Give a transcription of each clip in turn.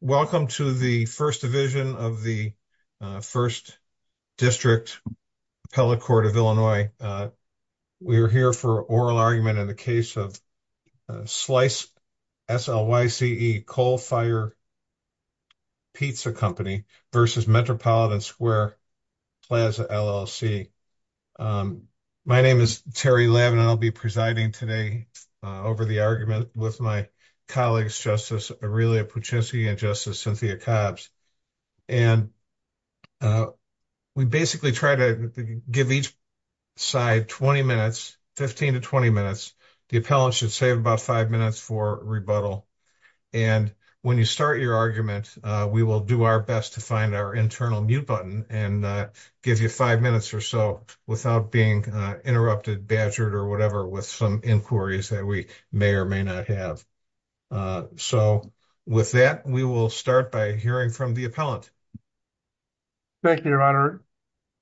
Welcome to the First Division of the First District Appellate Court of Illinois. We are here for oral argument in the case of Slyce, S-L-Y-C-E, Coal Fired Pizza Company v. Metropolitan Square Plaza, LLC. My name is Terry Levin and I'll be presiding today over the argument with my colleagues, Justice Aurelia Puccini and Justice Cynthia Cobbs. And we basically try to give each side 20 minutes, 15 to 20 minutes. The appellant should save about five minutes for rebuttal. And when you start your argument, we will do our best to find our internal mute button and give you five minutes or so without being interrupted, badgered, with some inquiries that we may or may not have. So with that, we will start by hearing from the appellant. Thank you, Your Honor.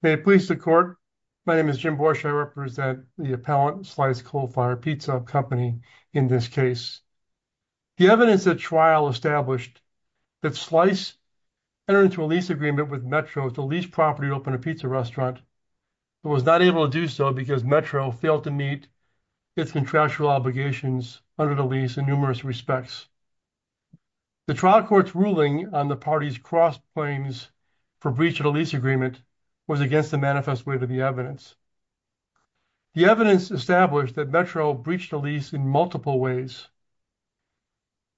May it please the Court. My name is Jim Borsche. I represent the appellant, Slyce Coal Fired Pizza Company, in this case. The evidence at trial established that Slyce entered into a lease agreement with Metro to lease property to open a pizza restaurant but was not able to do so because Metro failed to meet its contractual obligations under the lease in numerous respects. The trial court's ruling on the party's cross claims for breach of the lease agreement was against the manifest way to the evidence. The evidence established that Metro breached the lease in multiple ways.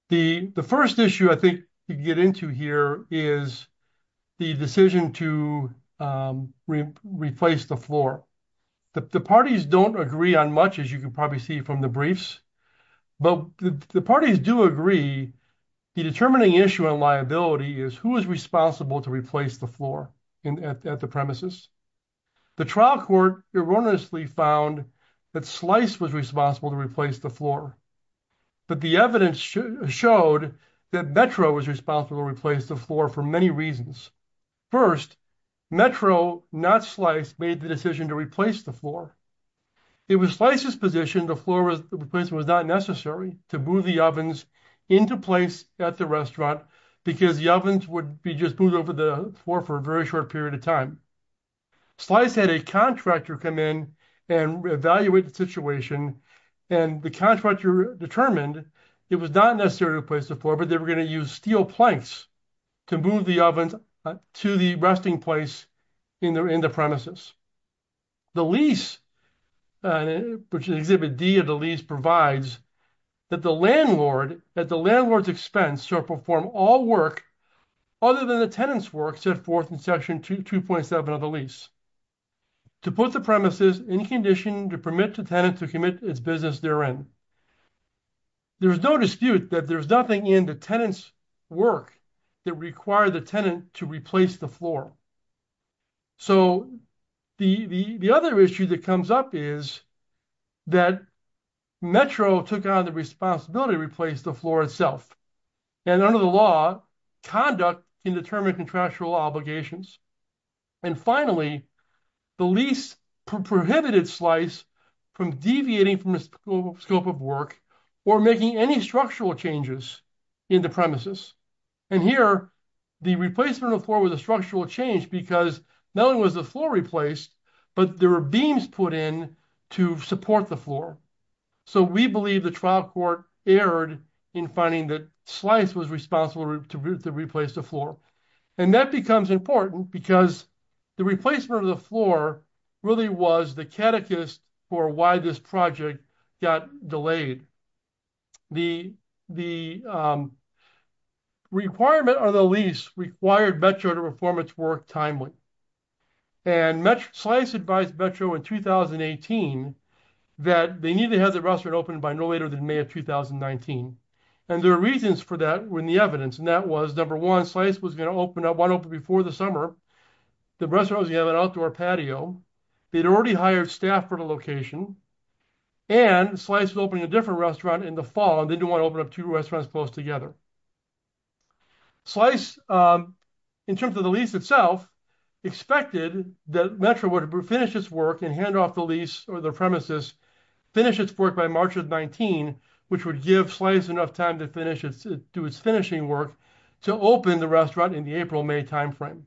The first issue I think you get into here is the decision to replace the floor. The parties don't agree on much, as you can probably see from the briefs, but the parties do agree the determining issue on liability is who is responsible to replace the floor at the premises. The trial court erroneously found that Slyce was responsible to replace the floor, but the evidence showed that Metro was responsible to replace the floor for many reasons. First, Metro, not Slyce, made the decision to replace the floor. It was Slyce's position the floor replacement was not necessary to move the ovens into place at the restaurant because the ovens would be just moved over the floor for a very short period of time. Slyce had a contractor come in and evaluate the situation and the contractor determined it was not necessary to replace the floor, but they were going to use steel planks to move the ovens to the resting place in the premises. The lease, which is Exhibit D of the lease, provides that the landlord at the landlord's expense shall perform all work other than the tenant's work set forth in section 2.7 of the lease to put the premises in condition to permit the tenant to commit its business therein. There's no dispute that there's nothing in the tenant's work that required the tenant to replace the floor. So, the other issue that comes up is that Metro took on the responsibility to replace the floor itself and under the law conduct can determine contractual obligations. And finally, the lease prohibited Slyce from deviating from the scope of work or making any structural changes in the premises. And here, the replacement of the floor was a structural change because not only was the floor replaced, but there were beams put in to support the floor. So, we believe the trial court erred in finding that Slyce was responsible to replace the floor. And that becomes important because the replacement of the floor really was the catechist for why this project got delayed. The requirement on the lease required Metro to perform its work timely. And Slyce advised Metro in 2018 that they needed to have the restaurant opened by no later than May of 2019. And their reasons for that were in the evidence. And that was, number one, Slyce was going to open up one open before the summer. The restaurant was going to have an outdoor patio. They'd already hired staff for the location. And Slyce was opening a different restaurant in the fall and they didn't want to open up two restaurants close together. Slyce, in terms of the lease itself, expected that Metro would finish its work and hand off the lease or the premises, finish its work by March of 2019, which would give Slyce enough time to do its finishing work to open the restaurant in the April-May time frame.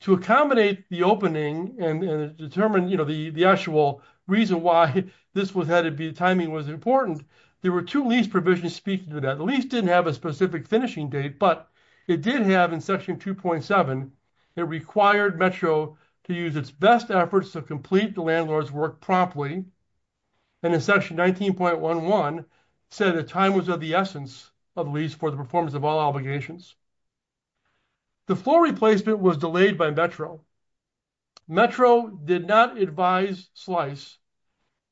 To accommodate the opening and determine the actual reason why the timing was important, there were two lease provisions speaking to that. The lease didn't have a specific finishing date, but it did have, in section 2.7, it required Metro to use its best efforts to complete the landlord's work promptly. And in section 19.11, it said the time was of the essence of the lease for the performance of all obligations. The floor replacement was delayed by Metro. Metro did not advise Slyce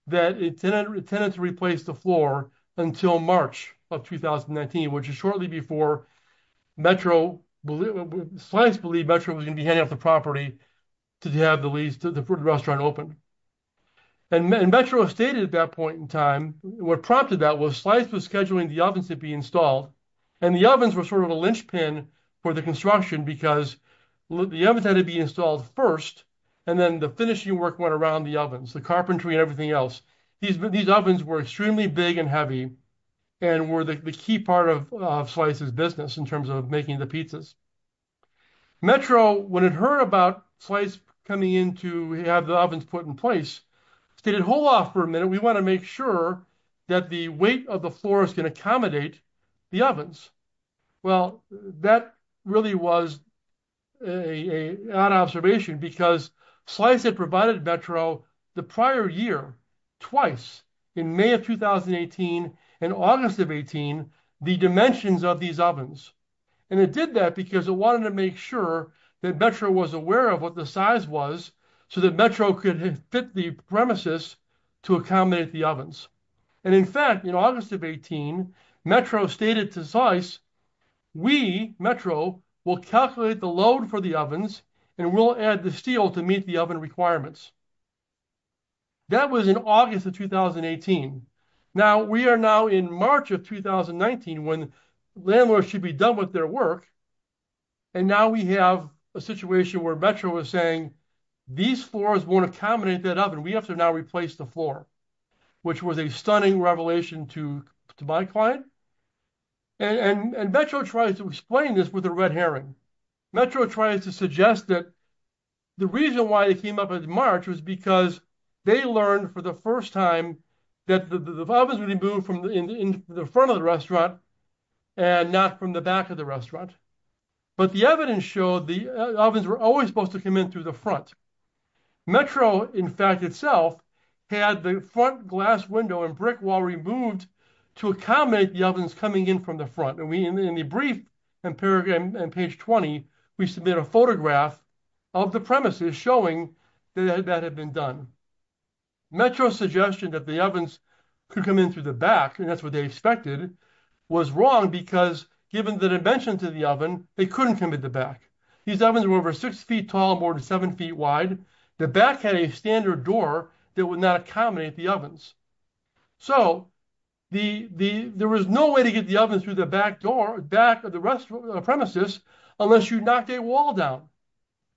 that it tended to replace the floor until March of 2019, which is shortly before Metro, Slyce believed Metro was going to be handing off the property to have the restaurant open. And Metro stated at that point in time, what prompted that was Slyce was scheduling the ovens to be installed and the ovens were sort of a linchpin for the construction because the ovens had to be installed first and then the finishing work went around the ovens, the carpentry and everything else. These ovens were extremely big and heavy and were the key part of Slyce's business in terms of making the pizzas. Metro, when it heard about Slyce coming in to have the ovens put in place, stated hold off for a minute, we want to make sure that the weight of the floors can accommodate the ovens. Well, that really was an odd observation because Slyce had provided Metro the prior year, twice in May of 2018 and August of 18, the dimensions of these ovens. And it did that because it wanted to make sure that Metro was aware of what the size was so that Metro could fit the premises to accommodate the ovens. And in fact, in August of 18, Metro stated to Slyce, we, Metro, will calculate the load for the ovens and we'll add the steel to meet the oven requirements. That was in August of 2018. Now, we are now in March of 2019 when landlords should be done with their work and now we have a situation where Metro is saying these floors won't accommodate that oven, we have to now replace the floor, which was a stunning revelation to my client. And Metro tried to explain this with a red herring. Metro tried to suggest that the reason why they came up in March was because they learned for the first time that the ovens would be moved from the front of the restaurant and not from the back of the restaurant. But the evidence showed the ovens were always supposed to come in through the front. Metro, in fact, itself had the front glass window and brick wall removed to accommodate the ovens coming in from the front. And we, in the paragraph on page 20, we submit a photograph of the premises showing that that had been done. Metro's suggestion that the ovens could come in through the back, and that's what they expected, was wrong because given the dimensions of the oven, they couldn't come in the back. These ovens were over six feet tall, more than seven feet wide. The back had a standard door that would not accommodate the ovens. So, there was no way to get the oven through the back door, back of the rest of the premises, unless you knocked a wall down,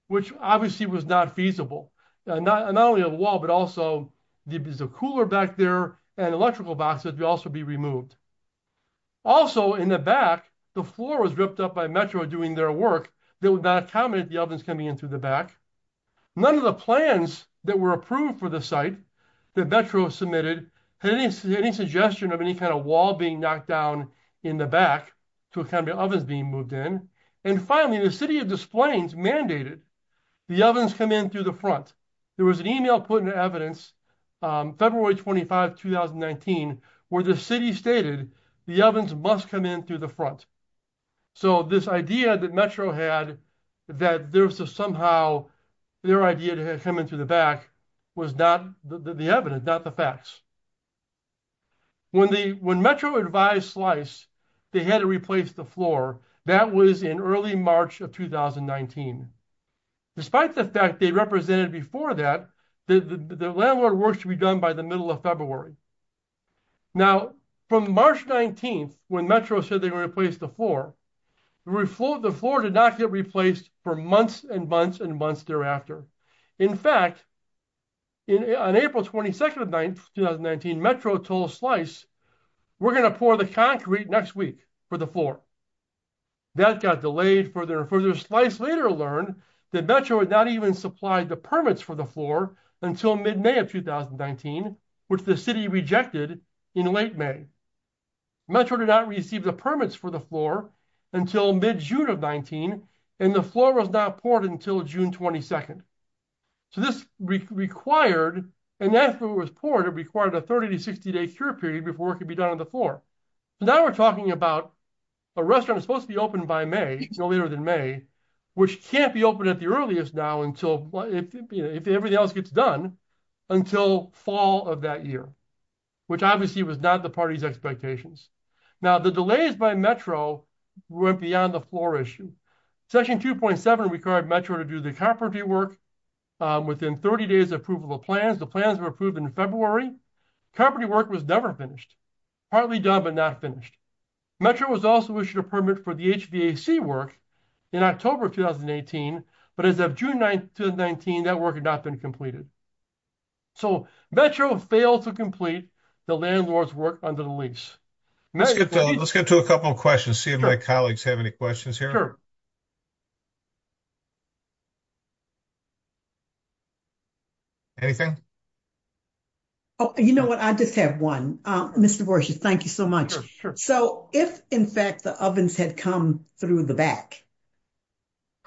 which obviously was not feasible. Not only a wall, but also there is a cooler back there and electrical box that would also be removed. Also, in the back, the floor was ripped up by Metro doing their work that would not accommodate the ovens coming in through the back. None of the plans that were approved for the site that Metro submitted had any suggestion of any kind of wall being knocked down in the back. To accommodate ovens being moved in. And finally, the City of Des Plaines mandated the ovens come in through the front. There was an email put in evidence, February 25, 2019, where the City stated the ovens must come in through the front. So, this idea that Metro had that there was somehow their idea to come in through the back was not the evidence, not the facts. When Metro advised Slice, they had to replace the floor. That was in early March of 2019. Despite the fact they represented before that, the landlord works to be done by the middle of February. Now, from March 19, when Metro said they were going to replace the floor, the floor did not get replaced for months and months and months thereafter. In fact, in April 22, 2019, Metro told Slice, we're going to pour the concrete next week for the floor. That got delayed further and further. Slice later learned that Metro had not even supplied the permits for the floor until mid-May of 2019, which the City rejected in late May. Metro did not receive the permits for the floor until mid-June of 19, and the floor was not poured until June 22. So, this required, and after it was poured, it required a 30 to 60-day cure period before it could be done on the floor. Now we're talking about a restaurant that's supposed to be open by May, no later than May, which can't be open at the earliest now, if everything else gets done, until fall of that year, which obviously was not the party's expectations. Now, the delays by Metro went beyond the floor issue. Section 2.7 required Metro to do the property work within 30 days of approval of plans. The plans were approved in February. Property work was never finished, partly done but not finished. Metro was also issued a permit for the HVAC work in October of 2018, but as of June 19, that work had not been completed. So, Metro failed to complete the landlord's work under the lease. Let's get to a couple of questions, see if my colleagues have any questions here. Anything? Oh, you know what, I just have one. Mr. Borges, thank you so much. So, if in fact the ovens had come through the back,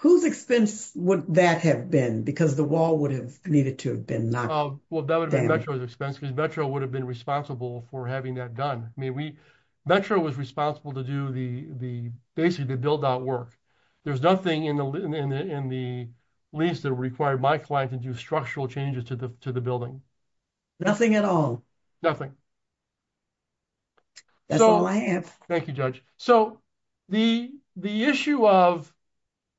whose expense would that have been? Because the wall would have needed to have been knocked down. Well, that would have been Metro's expense because Metro would have been responsible for having that done. I mean, Metro was responsible to do the basically the build-out work. There's nothing in the lease that required my client to do structural changes to the building. Nothing at all? Nothing. That's all I have. Thank you, Judge. So, the issue of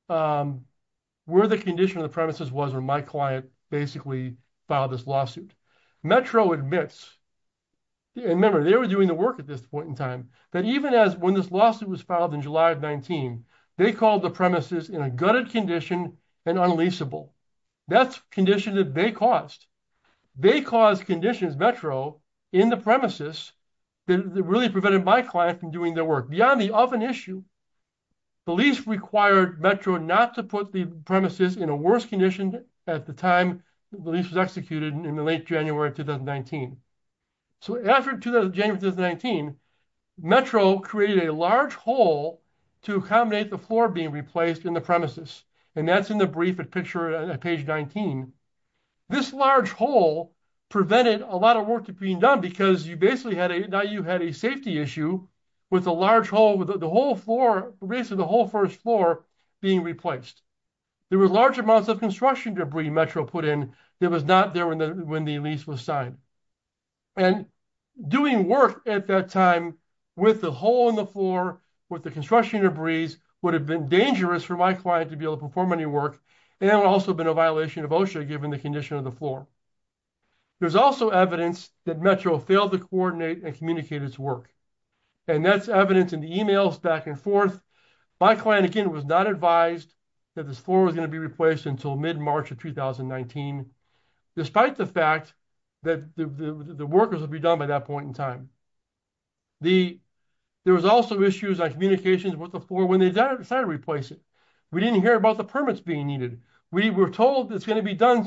where the condition of the premises was when my client basically filed this lawsuit. Metro admits, and remember they were doing the work at this point in time, that even as when this lawsuit was filed in July of 19, they called the premises in a gutted condition and unleaseable. That's condition that they caused. They caused conditions, Metro, in the premises that really prevented my client from doing their work. Beyond the oven issue, the lease required Metro not to put the premises in a worse condition at the time the lease was executed in the late January of 2019. So, after January 2019, Metro created a large hole to accommodate the floor being replaced in the premises. And that's in the brief picture at page 19. This large hole prevented a lot of work from being done because you basically had a safety issue with the whole first floor being replaced. There were large amounts of construction debris Metro put in that was not there when the lease was signed. And doing work at that time with the hole in the floor, with the construction debris, would have been dangerous for my client to be able to perform any work, and it would also have been a violation of OSHA given the condition of the floor. There's also evidence that Metro failed to coordinate and communicate its work. And that's evidence in the emails back and forth. My client, again, was not advised that this floor was going to be replaced until mid-March of 2019, despite the fact that the workers would be done by that point in time. There was also issues on communications with the floor when they decided to replace it. We didn't hear about the permits being needed. We were told it's done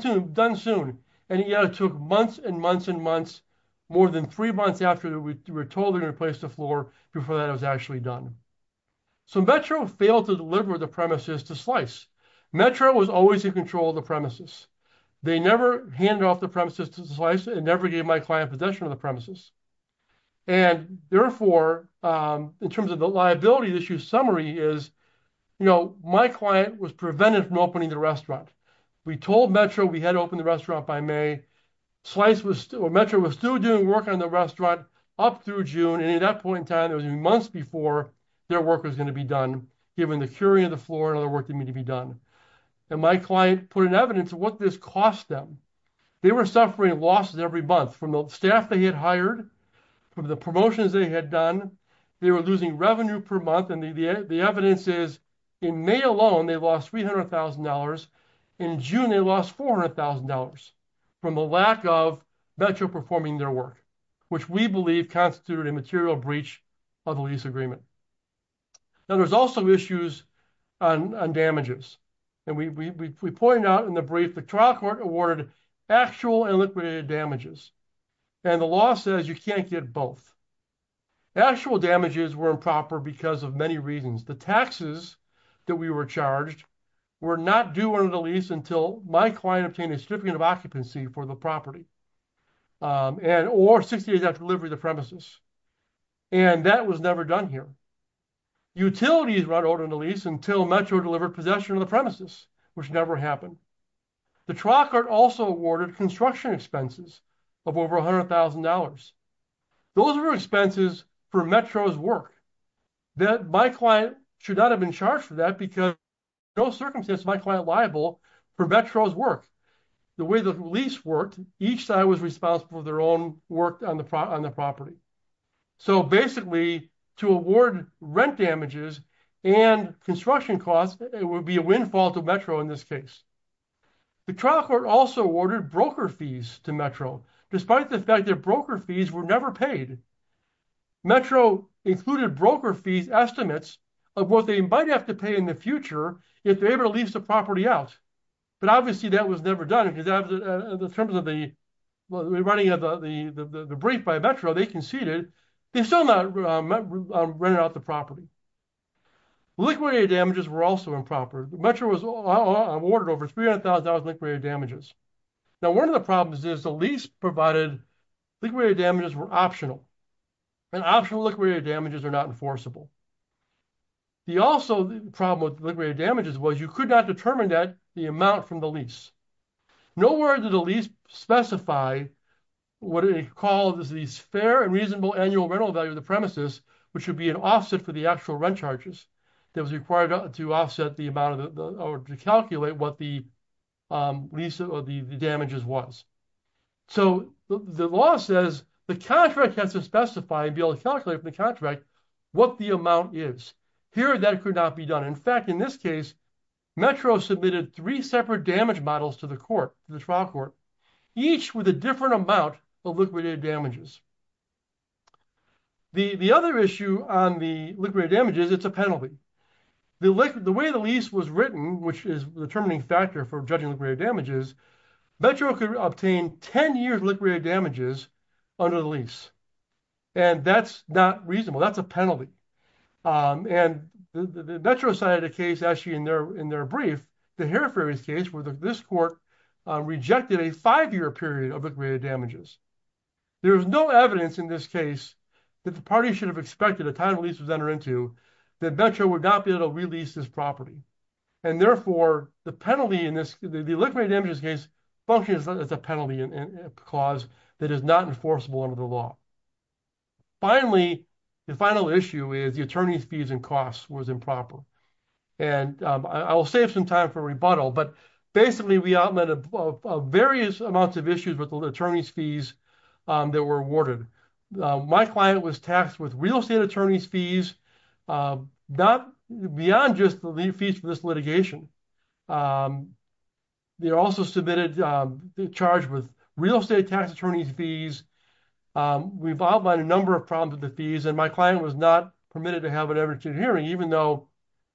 soon, and yet it took months and months and months, more than three months after we were told to replace the floor before that was actually done. So Metro failed to deliver the premises to SLICE. Metro was always in control of the premises. They never handed off the premises to SLICE and never gave my client possession of the premises. And therefore, in terms of the liability issue, is, you know, my client was prevented from opening the restaurant. We told Metro we had to open the restaurant by May. Metro was still doing work on the restaurant up through June, and at that point in time, it was months before their work was going to be done, given the curing of the floor and other work that needed to be done. And my client put in evidence of what this cost them. They were suffering losses every month from the staff they had hired, from the promotions they had done. They were losing revenue per month, and the evidence is in May alone, they lost $300,000. In June, they lost $400,000 from the lack of Metro performing their work, which we believe constituted a material breach of the lease agreement. Now, there's also issues on damages. And we pointed out in the brief, the trial court awarded actual and liquidated damages. And the law says you can't get both. Actual damages were improper because of many reasons. The taxes that we were charged were not due under the lease until my client obtained a certificate of occupancy for the property, or 60 days after delivery of the premises. And that was never done here. Utilities were not ordered under the lease until Metro delivered possession of the premises, which never happened. The trial court also awarded construction expenses of over $100,000. Those were expenses for Metro's work, that my client should not have been charged for that because no circumstance is my client liable for Metro's work. The way the lease worked, each side was responsible for their own work on the property. So basically, to award rent damages and construction costs, it would be a windfall to Metro in this case. The trial court also awarded broker fees to Metro, despite the fact that broker fees were never paid. Metro included broker fees estimates of what they might have to pay in the future if they were able to lease the property out. But obviously, that was never done because in terms of the running of the break by Metro, they conceded. They still not rented out the property. Liquidated damages were also improper. Metro was awarded over $300,000 liquidated damages. Now, one of the problems is the lease provided liquidated damages were optional, and optional liquidated damages are not enforceable. The also problem with liquidated damages was you could not determine that the amount from the lease. Nowhere did the lease specify what it called as these fair and reasonable annual rental value of the premises, which would be an offset for the actual rent charges that was required to offset the amount of the or to calculate what the lease or the damages was. So the law says the contract has to specify and be able to calculate from the contract what the amount is. Here, that could not be done. In fact, in this case, Metro submitted three separate damage models to the court, the trial court, each with a different amount of liquidated damages. The other issue on the liquidated damages, it's a penalty. The way the lease was written, which is the determining factor for judging liquidated damages, Metro could obtain 10 years damages under the lease. And that's not reasonable. That's a penalty. And the Metro side of the case, actually, in their in their brief, the Hereford case where this court rejected a five-year period of liquidated damages. There's no evidence in this case that the party should have expected a time lease was entered into that Metro would not be able to release this property. And therefore, the penalty in this liquidated damages case functions as a penalty in that is not enforceable under the law. Finally, the final issue is the attorney's fees and costs was improper. And I will save some time for rebuttal. But basically, we outlined various amounts of issues with the attorney's fees that were awarded. My client was taxed with real estate attorney's fees, not beyond just the fees for this litigation. They also submitted the charge with real estate tax attorney's fees. We've outlined a number of problems with the fees and my client was not permitted to have an evidence in hearing, even though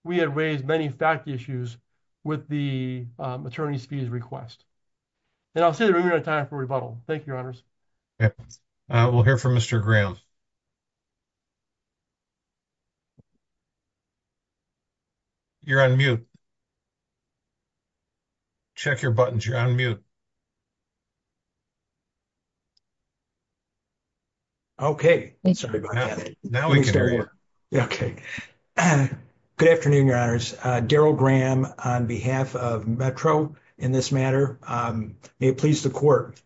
we had raised many fact issues with the attorney's fees request. And I'll save the time for rebuttal. Thank you, Your Honors. We'll hear from Mr. Graham. You're on mute. Check your buttons. You're on mute. Okay. Good afternoon, Your Honors. Daryl Graham on behalf of Metro in this matter. May it please the court.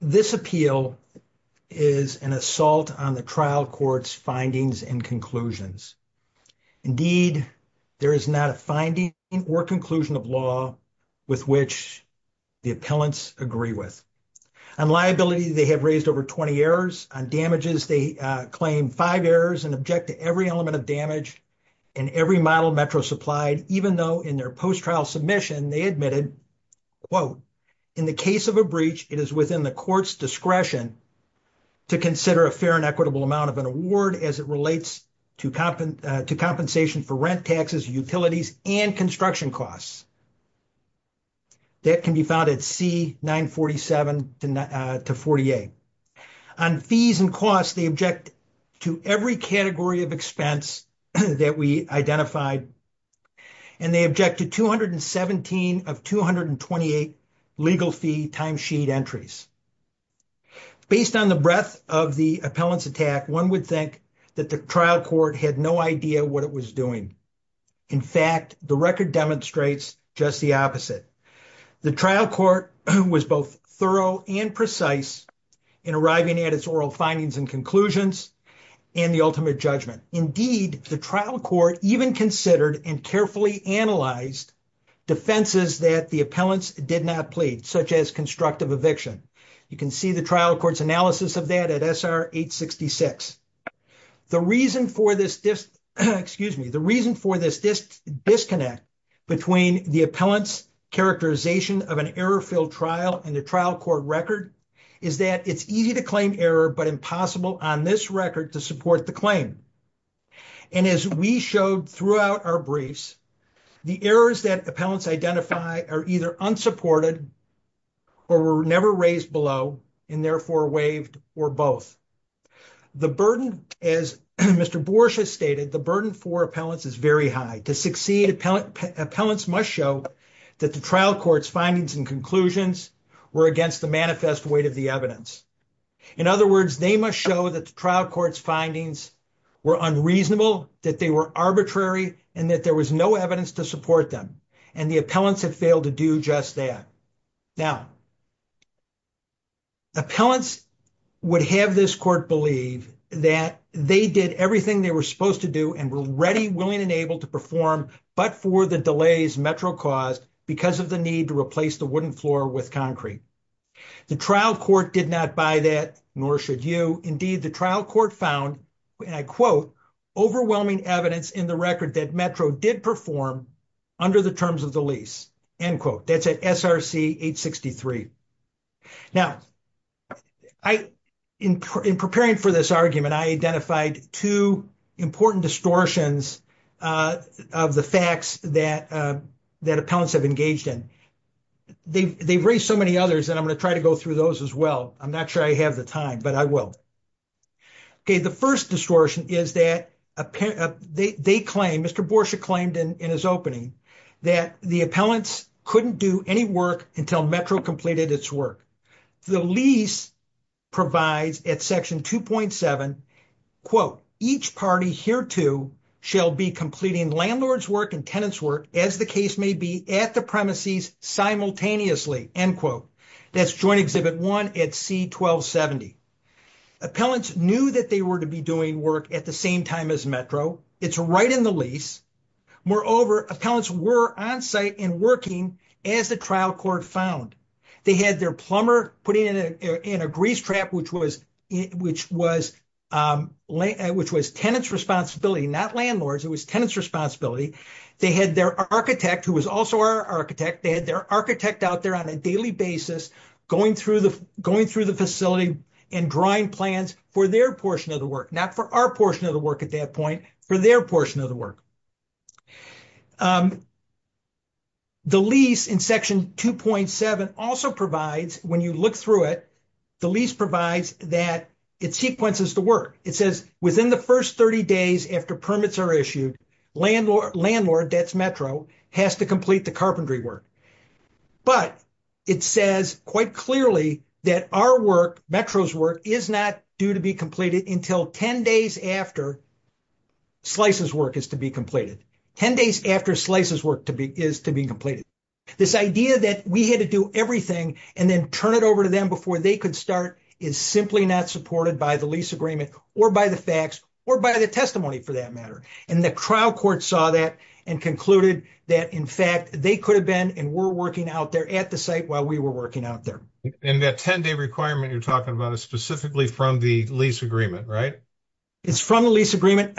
This appeal is an assault on the trial court's findings and conclusions. Indeed, there is not a finding or conclusion of law with which the appellants agree with. On liability, they have raised over 20 errors. On damages, they claim five errors and object to every element of damage and every model Metro supplied, even though in their post-trial submission, they admitted, quote, in the case of a breach, it is within the court's discretion to consider a fair and equitable amount of an award as it relates to compensation for rent, taxes, utilities, and construction costs. That can be found at C-947-48. On fees and costs, they object to every category of expense that we identified, and they object to 217 of 228 legal fee timesheet entries. Based on the breadth of the appellant's attack, one would think that the trial court had no idea what it was doing. In fact, the record demonstrates just the opposite. The trial court was both thorough and precise in arriving at its oral findings and conclusions and the ultimate judgment. Indeed, the trial court even considered and carefully analyzed defenses that the appellants did not plead, such as constructive eviction. You can see the trial court's analysis of that at SR-866. The reason for this disconnect between the appellant's characterization of an error-filled trial and the trial court record is that it's easy to claim error but impossible on this record to support the claim. And as we showed throughout our briefs, the errors that appellants identify are either unsupported or were never raised below and therefore waived or both. The burden, as Mr. Borsch has stated, the burden for appellants is very high. To succeed, appellants must show that the trial court's findings and conclusions were against the manifest weight of the evidence. In other words, they must show that the trial court's findings were unreasonable, that they were arbitrary, and that there was no evidence to support them. And the appellants have failed to do just that. Now, appellants would have this court believe that they did everything they were supposed to do and were ready, willing, and able to but for the delays Metro caused because of the need to replace the wooden floor with concrete. The trial court did not buy that, nor should you. Indeed, the trial court found, and I quote, end quote. That's at SR-863. Now, in preparing for this argument, I identified two important distortions of the facts that appellants have engaged in. They've raised so many others, and I'm going to try to go through those as well. I'm not sure I have the time, but I will. Okay, the first distortion is that they claim, Mr. Borsch claimed in his opening, that the appellants couldn't do any work until Metro completed its work. The lease provides at section 2.7, quote, each party hereto shall be completing landlord's work and tenant's work as the case may be at the premises simultaneously, end quote. That's Joint Exhibit 1 at C-1270. Appellants knew that they were to be doing work at the same time as Metro. It's right in the lease. Moreover, appellants were on site and working as the trial court found. They had their plumber putting in a grease trap, which was tenant's responsibility, not landlord's. It was tenant's responsibility. They had their architect, who was also our architect, they had their architect out there on a daily basis, going through the facility and drawing plans for their portion of the work, not for our portion of the work at that point, for their portion of the work. The lease in section 2.7 also provides, when you look through it, the lease provides that it sequences the work. It says within the first 30 days after permits are issued, landlord, that's Metro, has to complete the carpentry work. But it says quite clearly that our work, Metro's work, is not due to be completed until 10 days after Slice's work is to be completed. 10 days after Slice's work is to be completed. This idea that we had to do everything and then turn it over to them before they could start is simply not supported by the lease agreement or by the facts or by the testimony, for that matter. And the trial court saw that and concluded that, in fact, they could have been and were working out there at the site while we were working out there. And that 10-day requirement you're talking about is specifically from the lease agreement, right? It's from the lease agreement.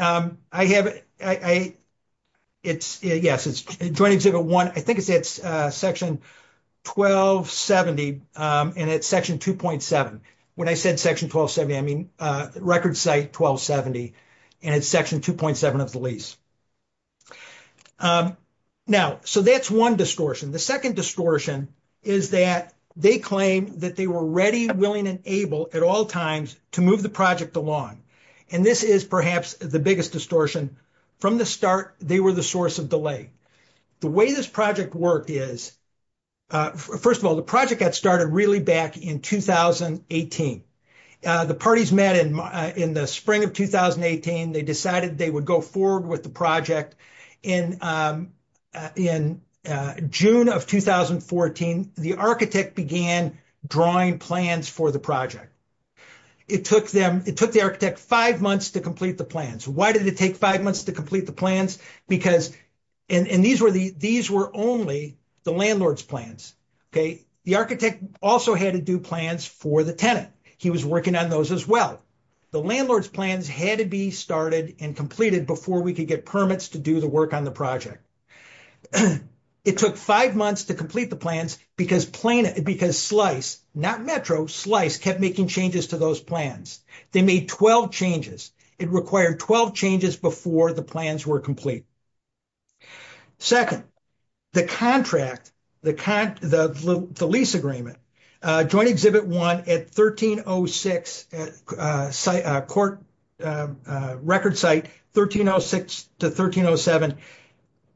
It's, yes, it's Joint Exhibit 1, I think it's section 1270 and it's section 2.7. When I said section 1270, I mean record site 1270 and it's section 2.7 of the lease. Now, so that's one distortion. The second distortion is that they claim that they were ready, willing, and able at all times to move the project along. And this is perhaps the biggest distortion. From the start, they were the source of delay. The way this project worked is, first of all, the project got started really back in 2018. The parties met in the spring of 2018. They decided they would go forward with the project. In June of 2014, the architect began drawing plans for the project. It took the architect five months to complete the plans. Why did it take five months to complete the plans? Because, and these were only the landlord's plans. The architect also had to do plans for the tenant. He was working on those as well. The landlord's plans had to be started and completed before we could get permits to do the work on the project. It took five months to complete the plans because Slice, not Metro, Slice kept making changes to those plans. They made 12 changes. It required 12 changes before the plans were complete. Second, the contract, the lease agreement, Joint Exhibit 1 at 1306 Court Record Site, 1306 to 1307,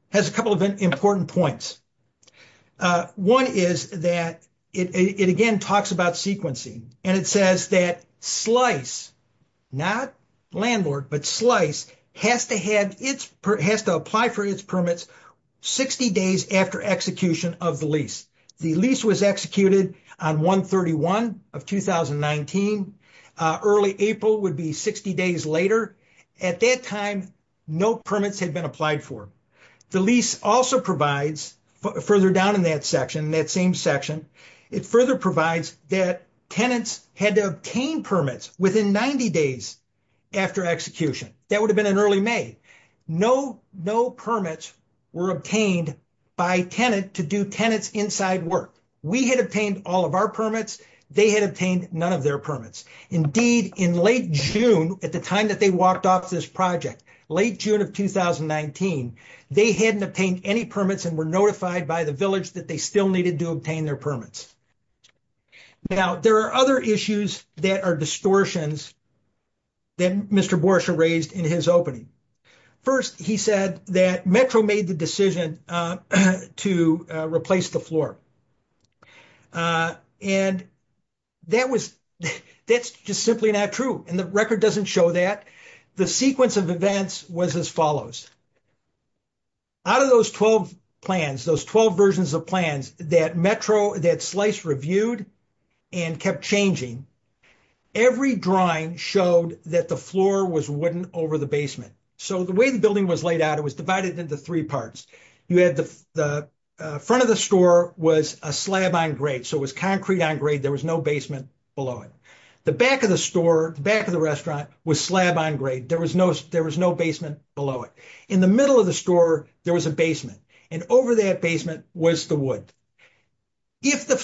has a couple of important points. One is that it again talks about sequencing. It says that Slice, not landlord, but Slice has to apply for its permits 60 days after execution of the lease. The lease was executed on 131 of 2019. Early April would be 60 days later. At that time, no permits had been applied for. The lease also provides, further down in that section, that same section, it further provides that tenants had to obtain permits within 90 days after execution. That would have been in early May. No permits were obtained by tenant to do tenants inside work. We had obtained all of our permits. They had obtained none of their permits. Indeed, in late June, at the time that they walked off this project, late June of 2019, they hadn't obtained any permits and were notified by the village that they still needed to obtain their permits. Now, there are other issues that are distortions that Mr. Borsha raised in his opening. First, he said that Metro made the decision to replace the floor. And that's just simply not true. And the record doesn't show that. The sequence of events was as follows. Out of those 12 plans, those 12 versions of plans that Metro, that Slice reviewed and kept changing, every drawing showed that the floor was wooden over the basement. So the way the building was laid out, it was divided into three parts. You had the front of the store was a slab on grade. So it was concrete on grade. There was no basement below it. The back of the store, the back of the restaurant was slab on grade. There was no, there was no basement below it. In the middle of the store, there was a basement. And over that basement was the wood. If the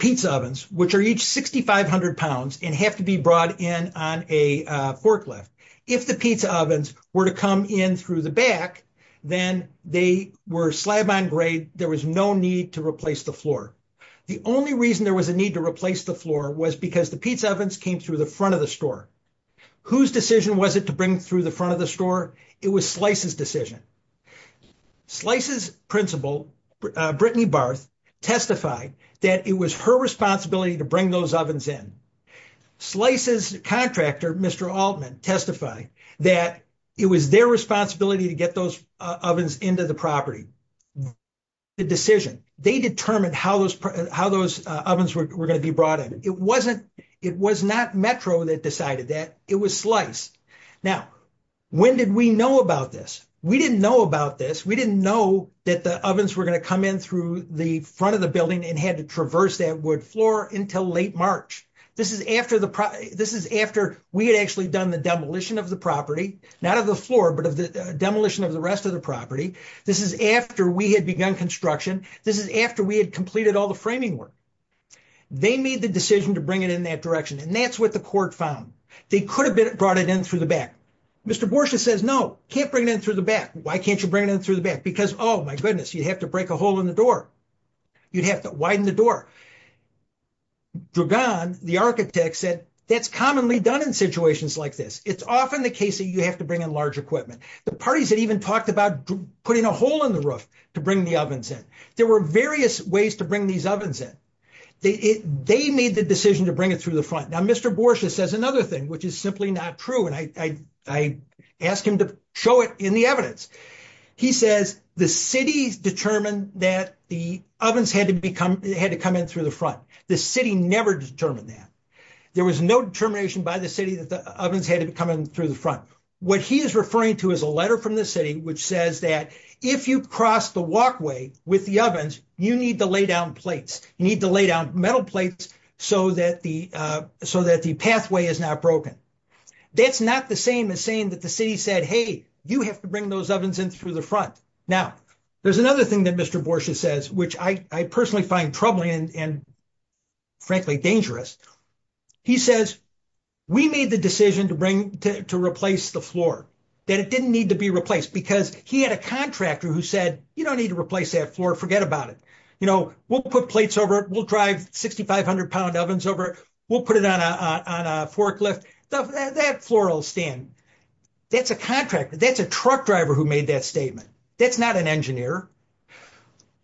pizza ovens, which are each 6,500 pounds and have to be brought in on a forklift, if the pizza ovens were to come in through the back, then they were slab on grade. There was no need to replace the floor. The only reason there was a need to replace the floor was because the pizza ovens came through the front of the store. Whose decision was it to bring through the front of the store? It was Slice's decision. Slice's principal, Brittany Barth, testified that it was her responsibility to bring those ovens in. Slice's contractor, Mr. Altman, testified that it was their responsibility to get those ovens into the property. The decision, they determined how those ovens were going to be brought in. It wasn't, it was not Metro that decided that. It was Slice. Now, when did we know about this? We didn't know about this. We didn't know that the ovens were going to come in through the front of the building and had to traverse that wood floor until late March. This is after the, this is after we had actually done the demolition of the property. Not of the floor, but of the demolition of the rest of the property. This is after we had begun construction. This is after we had completed all the framing work. They made the decision to bring it in that direction, and that's what the court found. They could have brought it in through the back. Mr. Borsha says, no, can't bring it in through the back. Why can't you bring it in through the back? Because, oh my goodness, you'd have to break a hole in the door. You'd have to widen the door. Duggan, the architect, said that's commonly done in situations like this. It's often the case that you have to bring in large equipment. The parties had even talked about putting a hole in the roof to bring the ovens in. There were various ways to these ovens in. They made the decision to bring it through the front. Now, Mr. Borsha says another thing, which is simply not true, and I ask him to show it in the evidence. He says the city's determined that the ovens had to come in through the front. The city never determined that. There was no determination by the city that the ovens had to come in through the front. What he is referring to is a letter from the city which says that if you cross the walkway with the ovens, you need to lay down metal plates so that the pathway is not broken. That's not the same as saying that the city said, hey, you have to bring those ovens in through the front. Now, there's another thing that Mr. Borsha says, which I personally find troubling and frankly dangerous. He says we made the decision to replace the floor. It didn't need to be replaced because he had a contractor who said you don't need to replace that floor. Forget about it. We'll put plates over it. We'll drive 6,500-pound ovens over it. We'll put it on a forklift. That floral stand, that's a contractor. That's a truck driver who made that statement. That's not an engineer.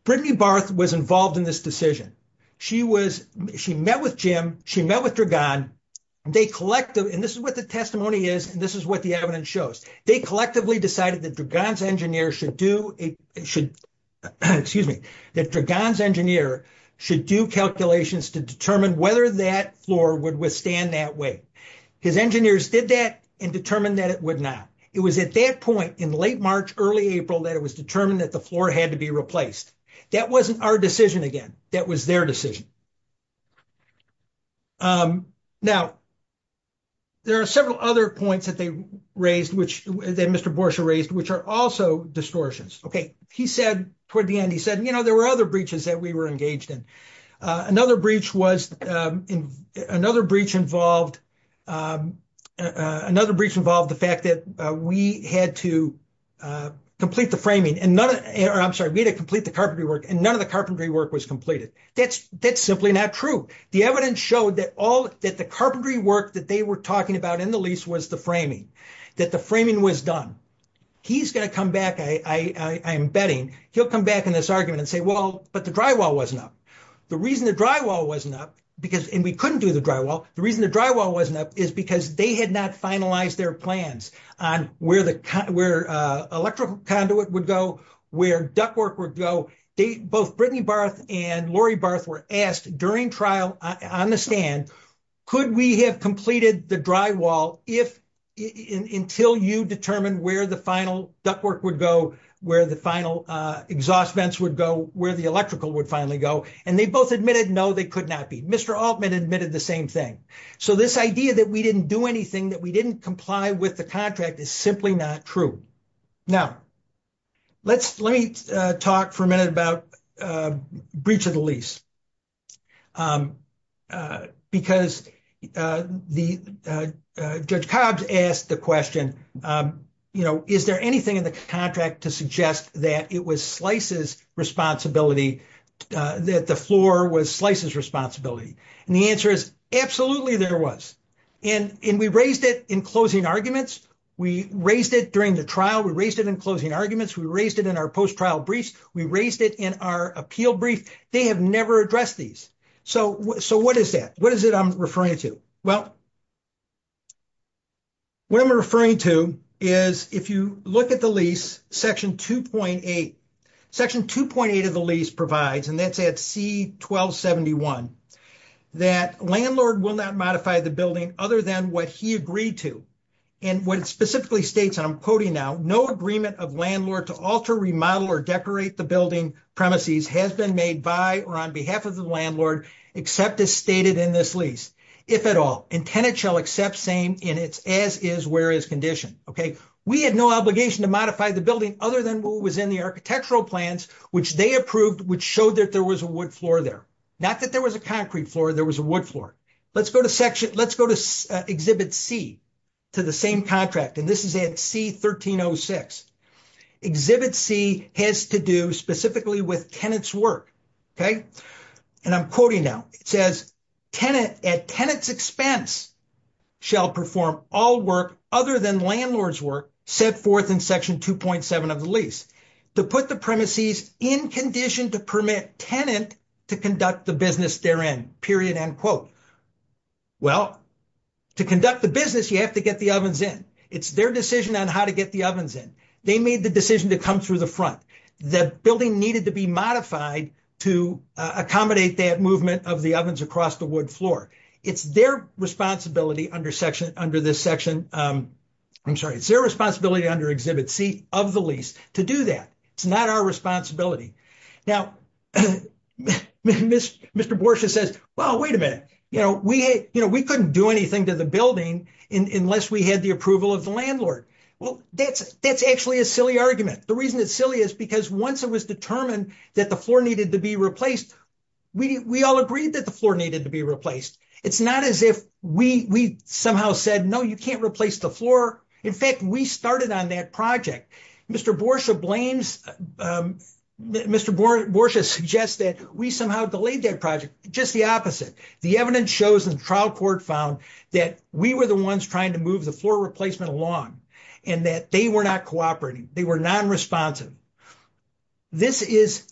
Brittany Barth was involved in this decision. She met with Jim. She met with Dragon. This is what the testimony is, and this is what the evidence shows. They collectively decided that Dragon's engineer should do calculations to determine whether that floor would withstand that weight. His engineers did that and determined that it would not. It was at that point in late March, early April that it was determined that the floor had to be replaced. That wasn't our decision again. That was their decision. Now, there are several other points that Mr. Borsha raised, which are also distortions. He said toward the end, he said, you know, there were other breaches that we were engaged in. Another breach involved the fact that we had to complete the framing. I'm sorry, we had to complete the carpentry work, and none of the carpentry work was completed. That's simply not true. The evidence showed that the carpentry work that they were talking about in the lease was the framing, that the framing was done. He's going to come back, I'm betting, he'll come back in this argument and say, well, but the drywall wasn't up. The reason the drywall wasn't up, and we couldn't do the drywall, the reason the drywall wasn't up is because they had not finalized their plans on where electrical conduit would go, where ductwork would go. Both Brittany Barth and Lori Barth were asked during trial on the stand, could we have completed the drywall until you determine where the final ductwork would go, where the final exhaust vents would go, where the electrical would finally go? And they both admitted, no, they could not be. Mr. Altman admitted the same thing. So this idea that we didn't do anything, that we didn't comply with the contract is simply not true. Now, let me talk for a minute about breach of the lease, because Judge Cobbs asked the question, is there anything in the contract to suggest that it was Slice's responsibility, that the floor was Slice's responsibility? And the answer is, absolutely there was. And we raised it in closing arguments, we raised it during the trial, we raised it in closing arguments, we raised it in our post-trial briefs, we raised it in our appeal brief. They have never addressed these. So what is that? What is it I'm referring to? Well, what I'm referring to is, if you look at the lease, section 2.8 of the lease provides, and that's at C-1271, that landlord will not modify the building other than what he agreed to. And what it specifically states, and I'm quoting now, no agreement of landlord to alter, remodel, or decorate the building premises has been made by or on behalf of the landlord, except as stated in this lease, if at all, and tenant shall accept same in its as-is-where-is condition. We had no obligation to modify the building other than what was in the architectural plans, which they approved, which showed that there was a wood floor there. Not that there was a concrete floor, there was a wood floor. Let's go to section, let's go to Exhibit C to the same contract, and this is at C-1306. Exhibit C has to do specifically with tenant's work, okay? And I'm quoting now, it says, tenant at tenant's expense shall perform all work other than landlord's work set forth in section 2.7 of the lease to put the premises in condition to permit tenant to conduct the business therein, period, end quote. Well, to conduct the business, you have to get the ovens in. It's their decision on how to get the ovens in. They made the decision to come through the front. The building needed to be modified to accommodate that movement of the ovens across the wood floor. It's their responsibility under section, under this section, I'm sorry, it's their responsibility under Exhibit C of the lease to do that. It's not our responsibility. Now, Mr. Borsha says, well, wait a minute, you know, we, you know, we couldn't do anything to the building unless we had the approval of the landlord. Well, that's actually a silly argument. The reason it's silly is because once it was determined that the floor needed to be replaced, we all agreed that the floor needed to be replaced. It's not as if we somehow said, no, you can't replace the floor. In fact, we started on that project. Mr. Borsha blames, Mr. Borsha suggests that we somehow delayed that project, just the opposite. The evidence shows and the trial court found that we were the ones trying to move the replacement along and that they were not cooperating. They were non-responsive. This is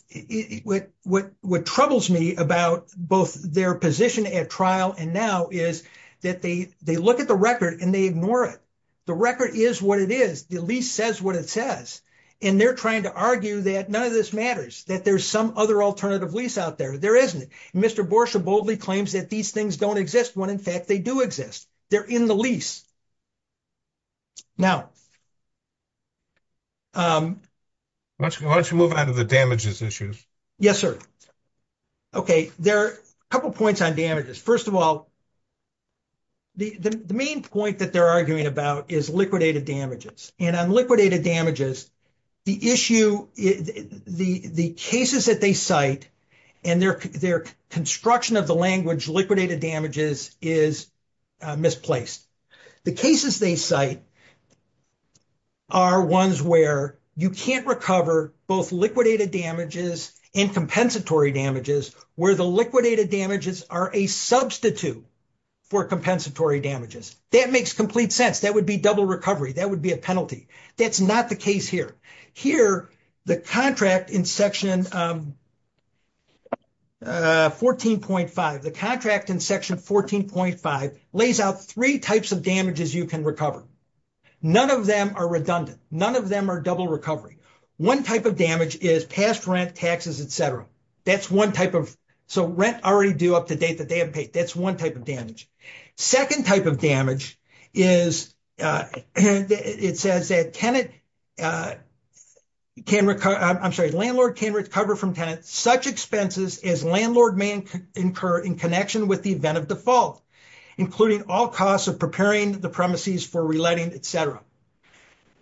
what, what, what troubles me about both their position at trial and now is that they, they look at the record and they ignore it. The record is what it is. The lease says what it says, and they're trying to argue that none of this matters, that there's some other alternative lease out there. There isn't. Mr. Borsha boldly claims that these things don't exist when in fact they do exist. They're in the lease. Now. Why don't you move on to the damages issues? Yes, sir. Okay. There are a couple of points on damages. First of all, the main point that they're arguing about is liquidated damages and on liquidated damages, the issue, the cases that they cite and their construction of the language liquidated damages is misplaced. The cases they cite are ones where you can't recover both liquidated damages and compensatory damages where the liquidated damages are a substitute for compensatory damages. That makes complete sense. That would be double recovery. That would be a penalty. That's not the case here. Here, the contract in section 14.5, the contract in section 14.5 lays out three types of damages you can recover. None of them are redundant. None of them are double recovery. One type of damage is past rent, taxes, et cetera. That's one type of, so rent already due up to date that they have paid. That's one type of damage. Second type of damage is, it says that tenant can recover, I'm sorry, landlord can recover from tenant such expenses as landlord may incur in connection with the event of default, including all costs of preparing the premises for reletting, et cetera.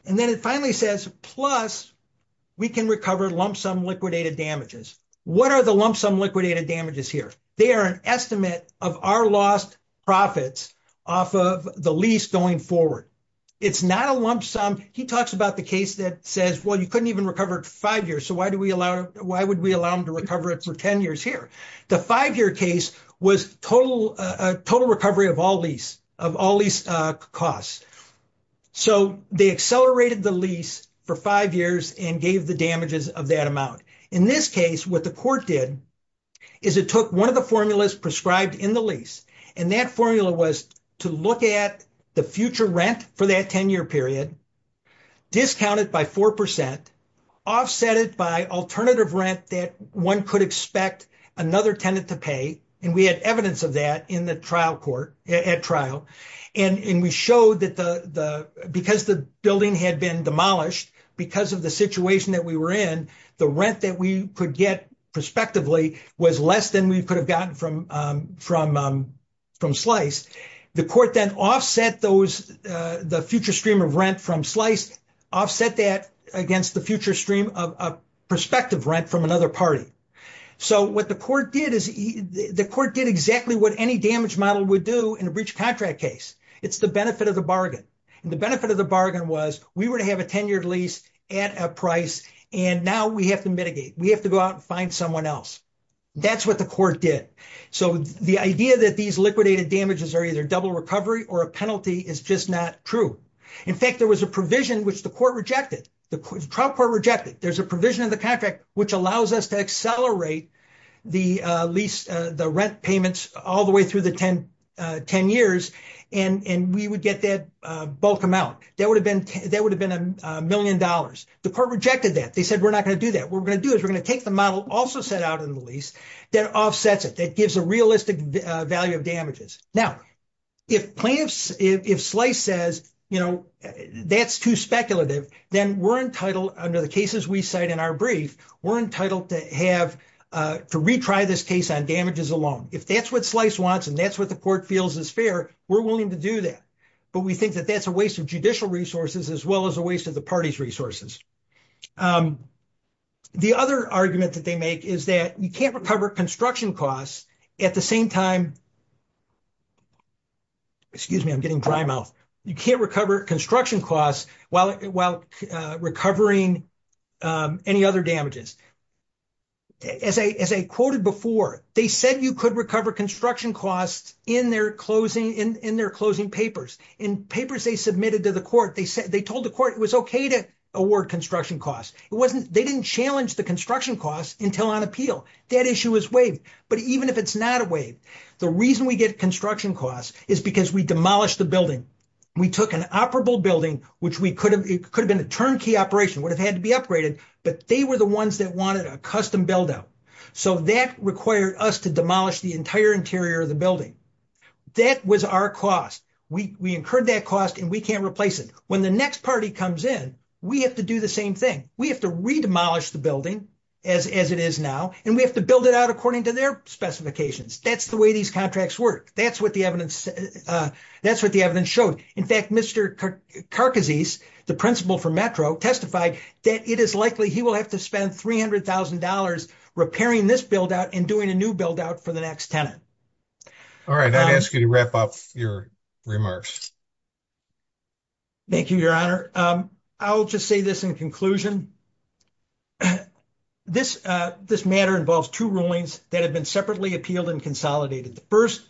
And then it finally says, plus we can recover lump sum liquidated damages. What are the lump sum liquidated damages here? They are an estimate of our lost profits off of the lease going forward. It's not a lump sum. He talks about the case that says, well, you couldn't even recover it for five years, so why would we allow him to recover it for 10 years here? The five-year case was a total recovery of all lease costs. So they accelerated the lease for five years and gave the damages of that amount. In this case, what the court did is it took one of the formulas prescribed in the lease. And that formula was to look at the future rent for that 10-year period, discounted by 4%, offset it by alternative rent that one could expect another tenant to pay. And we had evidence of that in the trial court, at trial. And we showed because the building had been demolished, because of the situation that we were in, the rent that we could get prospectively was less than we could have gotten from Slice. The court then offset the future stream of rent from Slice, offset that against the future stream of prospective rent from another party. So what the court did is the court did exactly what any damage model would do in a breach contract case. It's the benefit of the bargain. And the benefit of the bargain was we were to have a 10-year lease at a price, and now we have to mitigate. We have to go out and find someone else. That's what the court did. So the idea that these liquidated damages are either double recovery or a penalty is just not true. In fact, there was a provision which the court rejected, the trial court rejected. There's a provision in the contract which allows us to accelerate the lease, the rent payments all the way through the 10 years, and we would get that bulk amount. That would have been a million dollars. The court rejected that. They said, we're not going to do that. What we're going to do is we're going to take the model also set out in the lease that offsets it, that gives a realistic value of damages. Now, if plaintiffs, if Slice says, you know, that's too speculative, then we're entitled, under the cases we cite in our brief, we're entitled to have, to retry this case on damages alone. If that's what Slice wants and that's what the court feels is fair, we're willing to do that. But we think that that's a waste of judicial resources as well as a waste of the party's resources. The other argument that they make is that you can't recover construction costs at the same time, excuse me, I'm getting dry mouth. You can't recover construction costs while recovering any other damages. As I quoted before, they said you could recover construction costs in their closing papers. In papers they submitted to the court, they told the court it was okay to award construction costs. They didn't challenge the construction costs until on appeal. That issue is waived. But even if it's not a waive, the reason we get construction costs is because we demolished the building. We took an operable building, which could have been a turnkey operation, would have had to be upgraded, but they were the ones that wanted a custom build-out. So that required us to demolish the entire interior of the building. That was our cost. We incurred that cost and we can't replace it. When the next party comes in, we have to do the same thing. We have to redemolish the building as it is now, and we have to build it out according to their specifications. That's the way these contracts work. That's what the evidence showed. In fact, Mr. Carcassise, the principal for Metro, testified that it is likely he will have to spend $300,000 repairing this build-out and doing a new build-out for the next tenant. All right, I'd ask you to wrap up your remarks. Thank you, Your Honor. I'll just say this in conclusion. This matter involves two rulings that have been separately appealed and consolidated. The first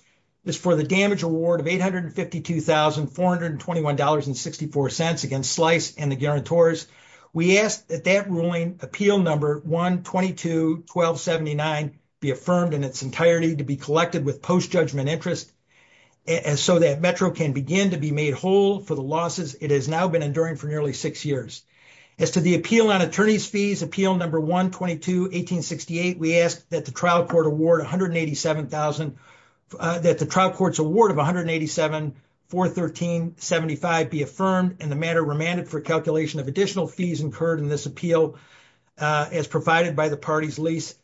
is for the damage award of $852,421.64 against Slice and the guarantors. We ask that that ruling, appeal number 1221279, be affirmed in its entirety to be collected with post-judgment interest so that Metro can begin to be made whole for the losses it has now been enduring for nearly six years. As to the appeal on attorney's fees, appeal number 1221868, we ask that the trial court's award of $187,413.75 be affirmed and the matter remanded for calculation of additional fees incurred in this appeal as provided by the party's lease,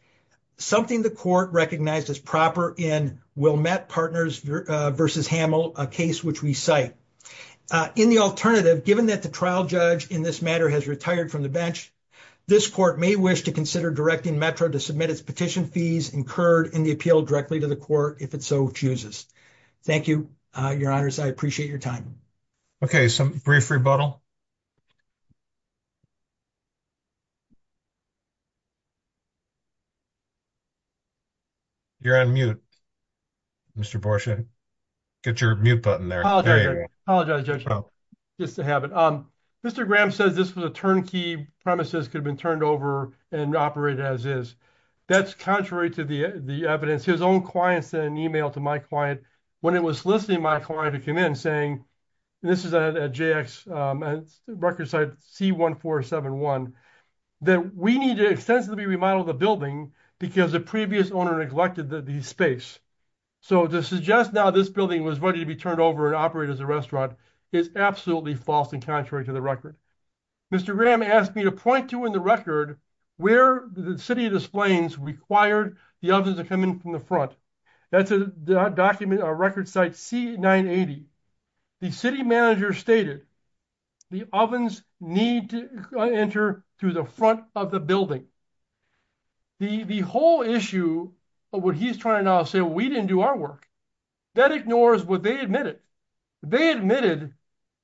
something the court recognized as proper in Wilmette Partners v. Hamill, a case which we cite. In the alternative, given that the trial judge in this matter has retired from the bench, this court may wish to consider directing Metro to submit its petition fees incurred in the appeal directly to the court if it so chooses. Thank you, Your Honors. I appreciate your time. Okay, some brief rebuttal. You're on mute, Mr. Borsche. Get your mute button there. Apologize, Judge, just to have it. Mr. Graham says this was a turnkey premises could have been turned over and operated as is. That's contrary to the evidence. His own client sent an email to my client when it was soliciting my client to come in saying, and this is at JX, record site C1471, that we need to extensively remodel the building because the previous owner neglected the space. So to suggest now this building was ready to be turned over and operated as a restaurant is absolutely false and contrary to the record. Mr. Graham asked me to point to in the record where the city of Des Plaines required the ovens to come in from the front. That's a document, a record site C980. The city manager stated the ovens need to enter through the front of the building. The whole issue of what he's trying to say, we didn't do our work. That ignores what they admitted. They admitted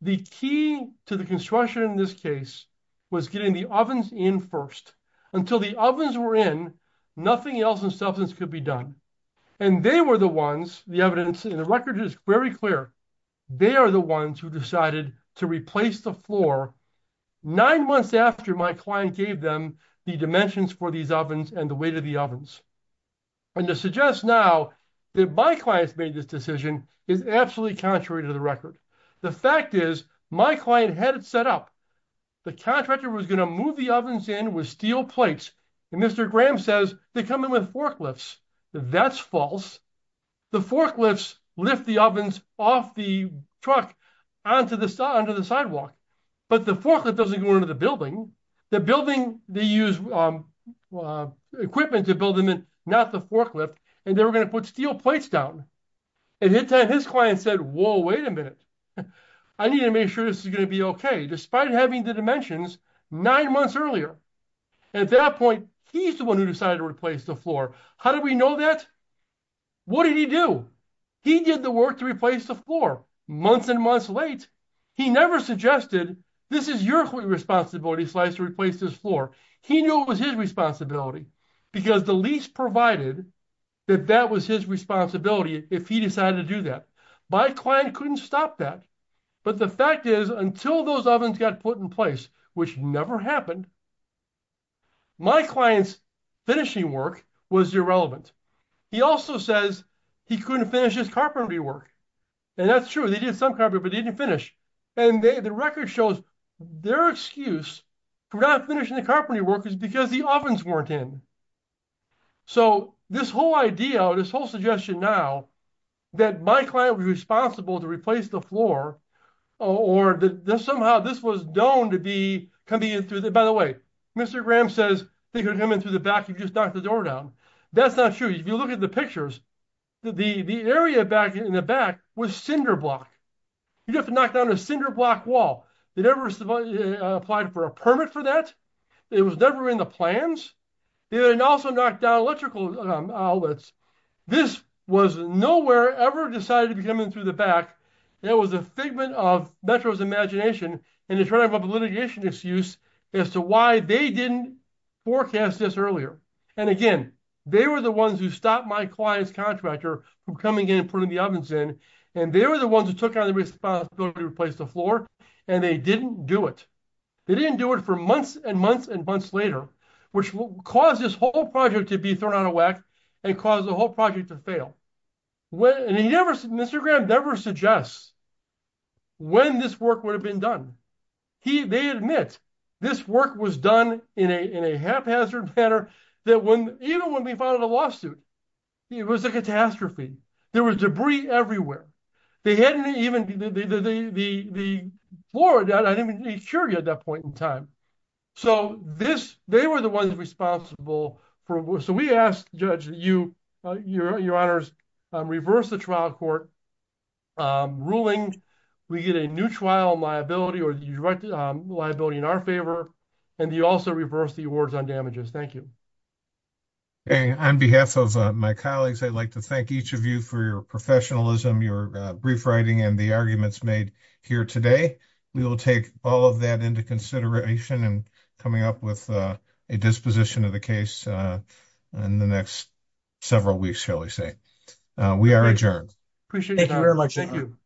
the key to the construction in this case was getting the ovens in first. Until the ovens were in, nothing else in substance could be done. And they were the ones, the evidence in the record is very clear, they are the ones who decided to replace the floor nine months after my client gave them the dimensions for these ovens and the weight of the ovens. And to suggest now that my clients made this decision is absolutely contrary to the record. The fact is my client had it set up. The contractor was going to move the ovens in with steel plates and Mr. Graham says they come in with forklifts. That's false. The forklifts lift the ovens off the truck onto the sidewalk. But the forklift doesn't go into the building. The building, they use equipment to build them in, not the forklift. And they were going to put steel plates down. And his client said, whoa, wait a minute. I need to make sure this is going to be okay, despite having the dimensions nine months earlier. At that point, he's the one who decided to replace the floor. How did we know that? What did he do? He did the work to replace the floor, months and months late. He never suggested, this is your responsibility, Slice, to replace this floor. He knew it was his responsibility because the lease provided that that was his responsibility if he decided to do that. My client couldn't stop that. But the fact is, until those ovens got put in place, which never happened, my client's finishing work was irrelevant. He also says he couldn't finish his carpentry work. And that's true. They did some carpentry, but they didn't finish. And the record shows their excuse for not finishing the carpentry work is because the ovens weren't in. So this whole idea, this whole suggestion now, that my client was responsible to replace the floor, or that somehow this was known to be convenient. By the way, Mr. Graham says they could come in through the back and just knock the door down. That's not true. If you look at the pictures, the area back in the back was cinderblock. You have to knock down a cinderblock wall. They never applied for a permit for that. It was never in the plans. They also knocked down electrical outlets. This was nowhere ever decided to be coming through the back. It was a figment of Metro's imagination, and it's a litigation excuse as to why they didn't forecast this earlier. And again, they were the ones who stopped my client's contractor from coming in and putting the ovens in. And they were the ones who took on the responsibility to replace the floor. And they didn't do it. They didn't do it for months and months and months later, which caused this whole project to be thrown out of whack and caused the whole project to fail. Mr. Graham never suggests when this work would have been done. They admit this work was done in a haphazard manner, even when we filed a lawsuit. It was a catastrophe. There was debris on the floor. They were the ones responsible. So we ask, Judge, you, your honors, reverse the trial court ruling. We get a new trial liability or liability in our favor. And you also reverse the awards on damages. Thank you. On behalf of my colleagues, I'd like to thank each of you for your professionalism, your brief writing, and the arguments made here today. We will take all of that into consideration in coming up with a disposition of the case in the next several weeks, shall we say. We are adjourned. Appreciate it. Thank you very much. Thank you.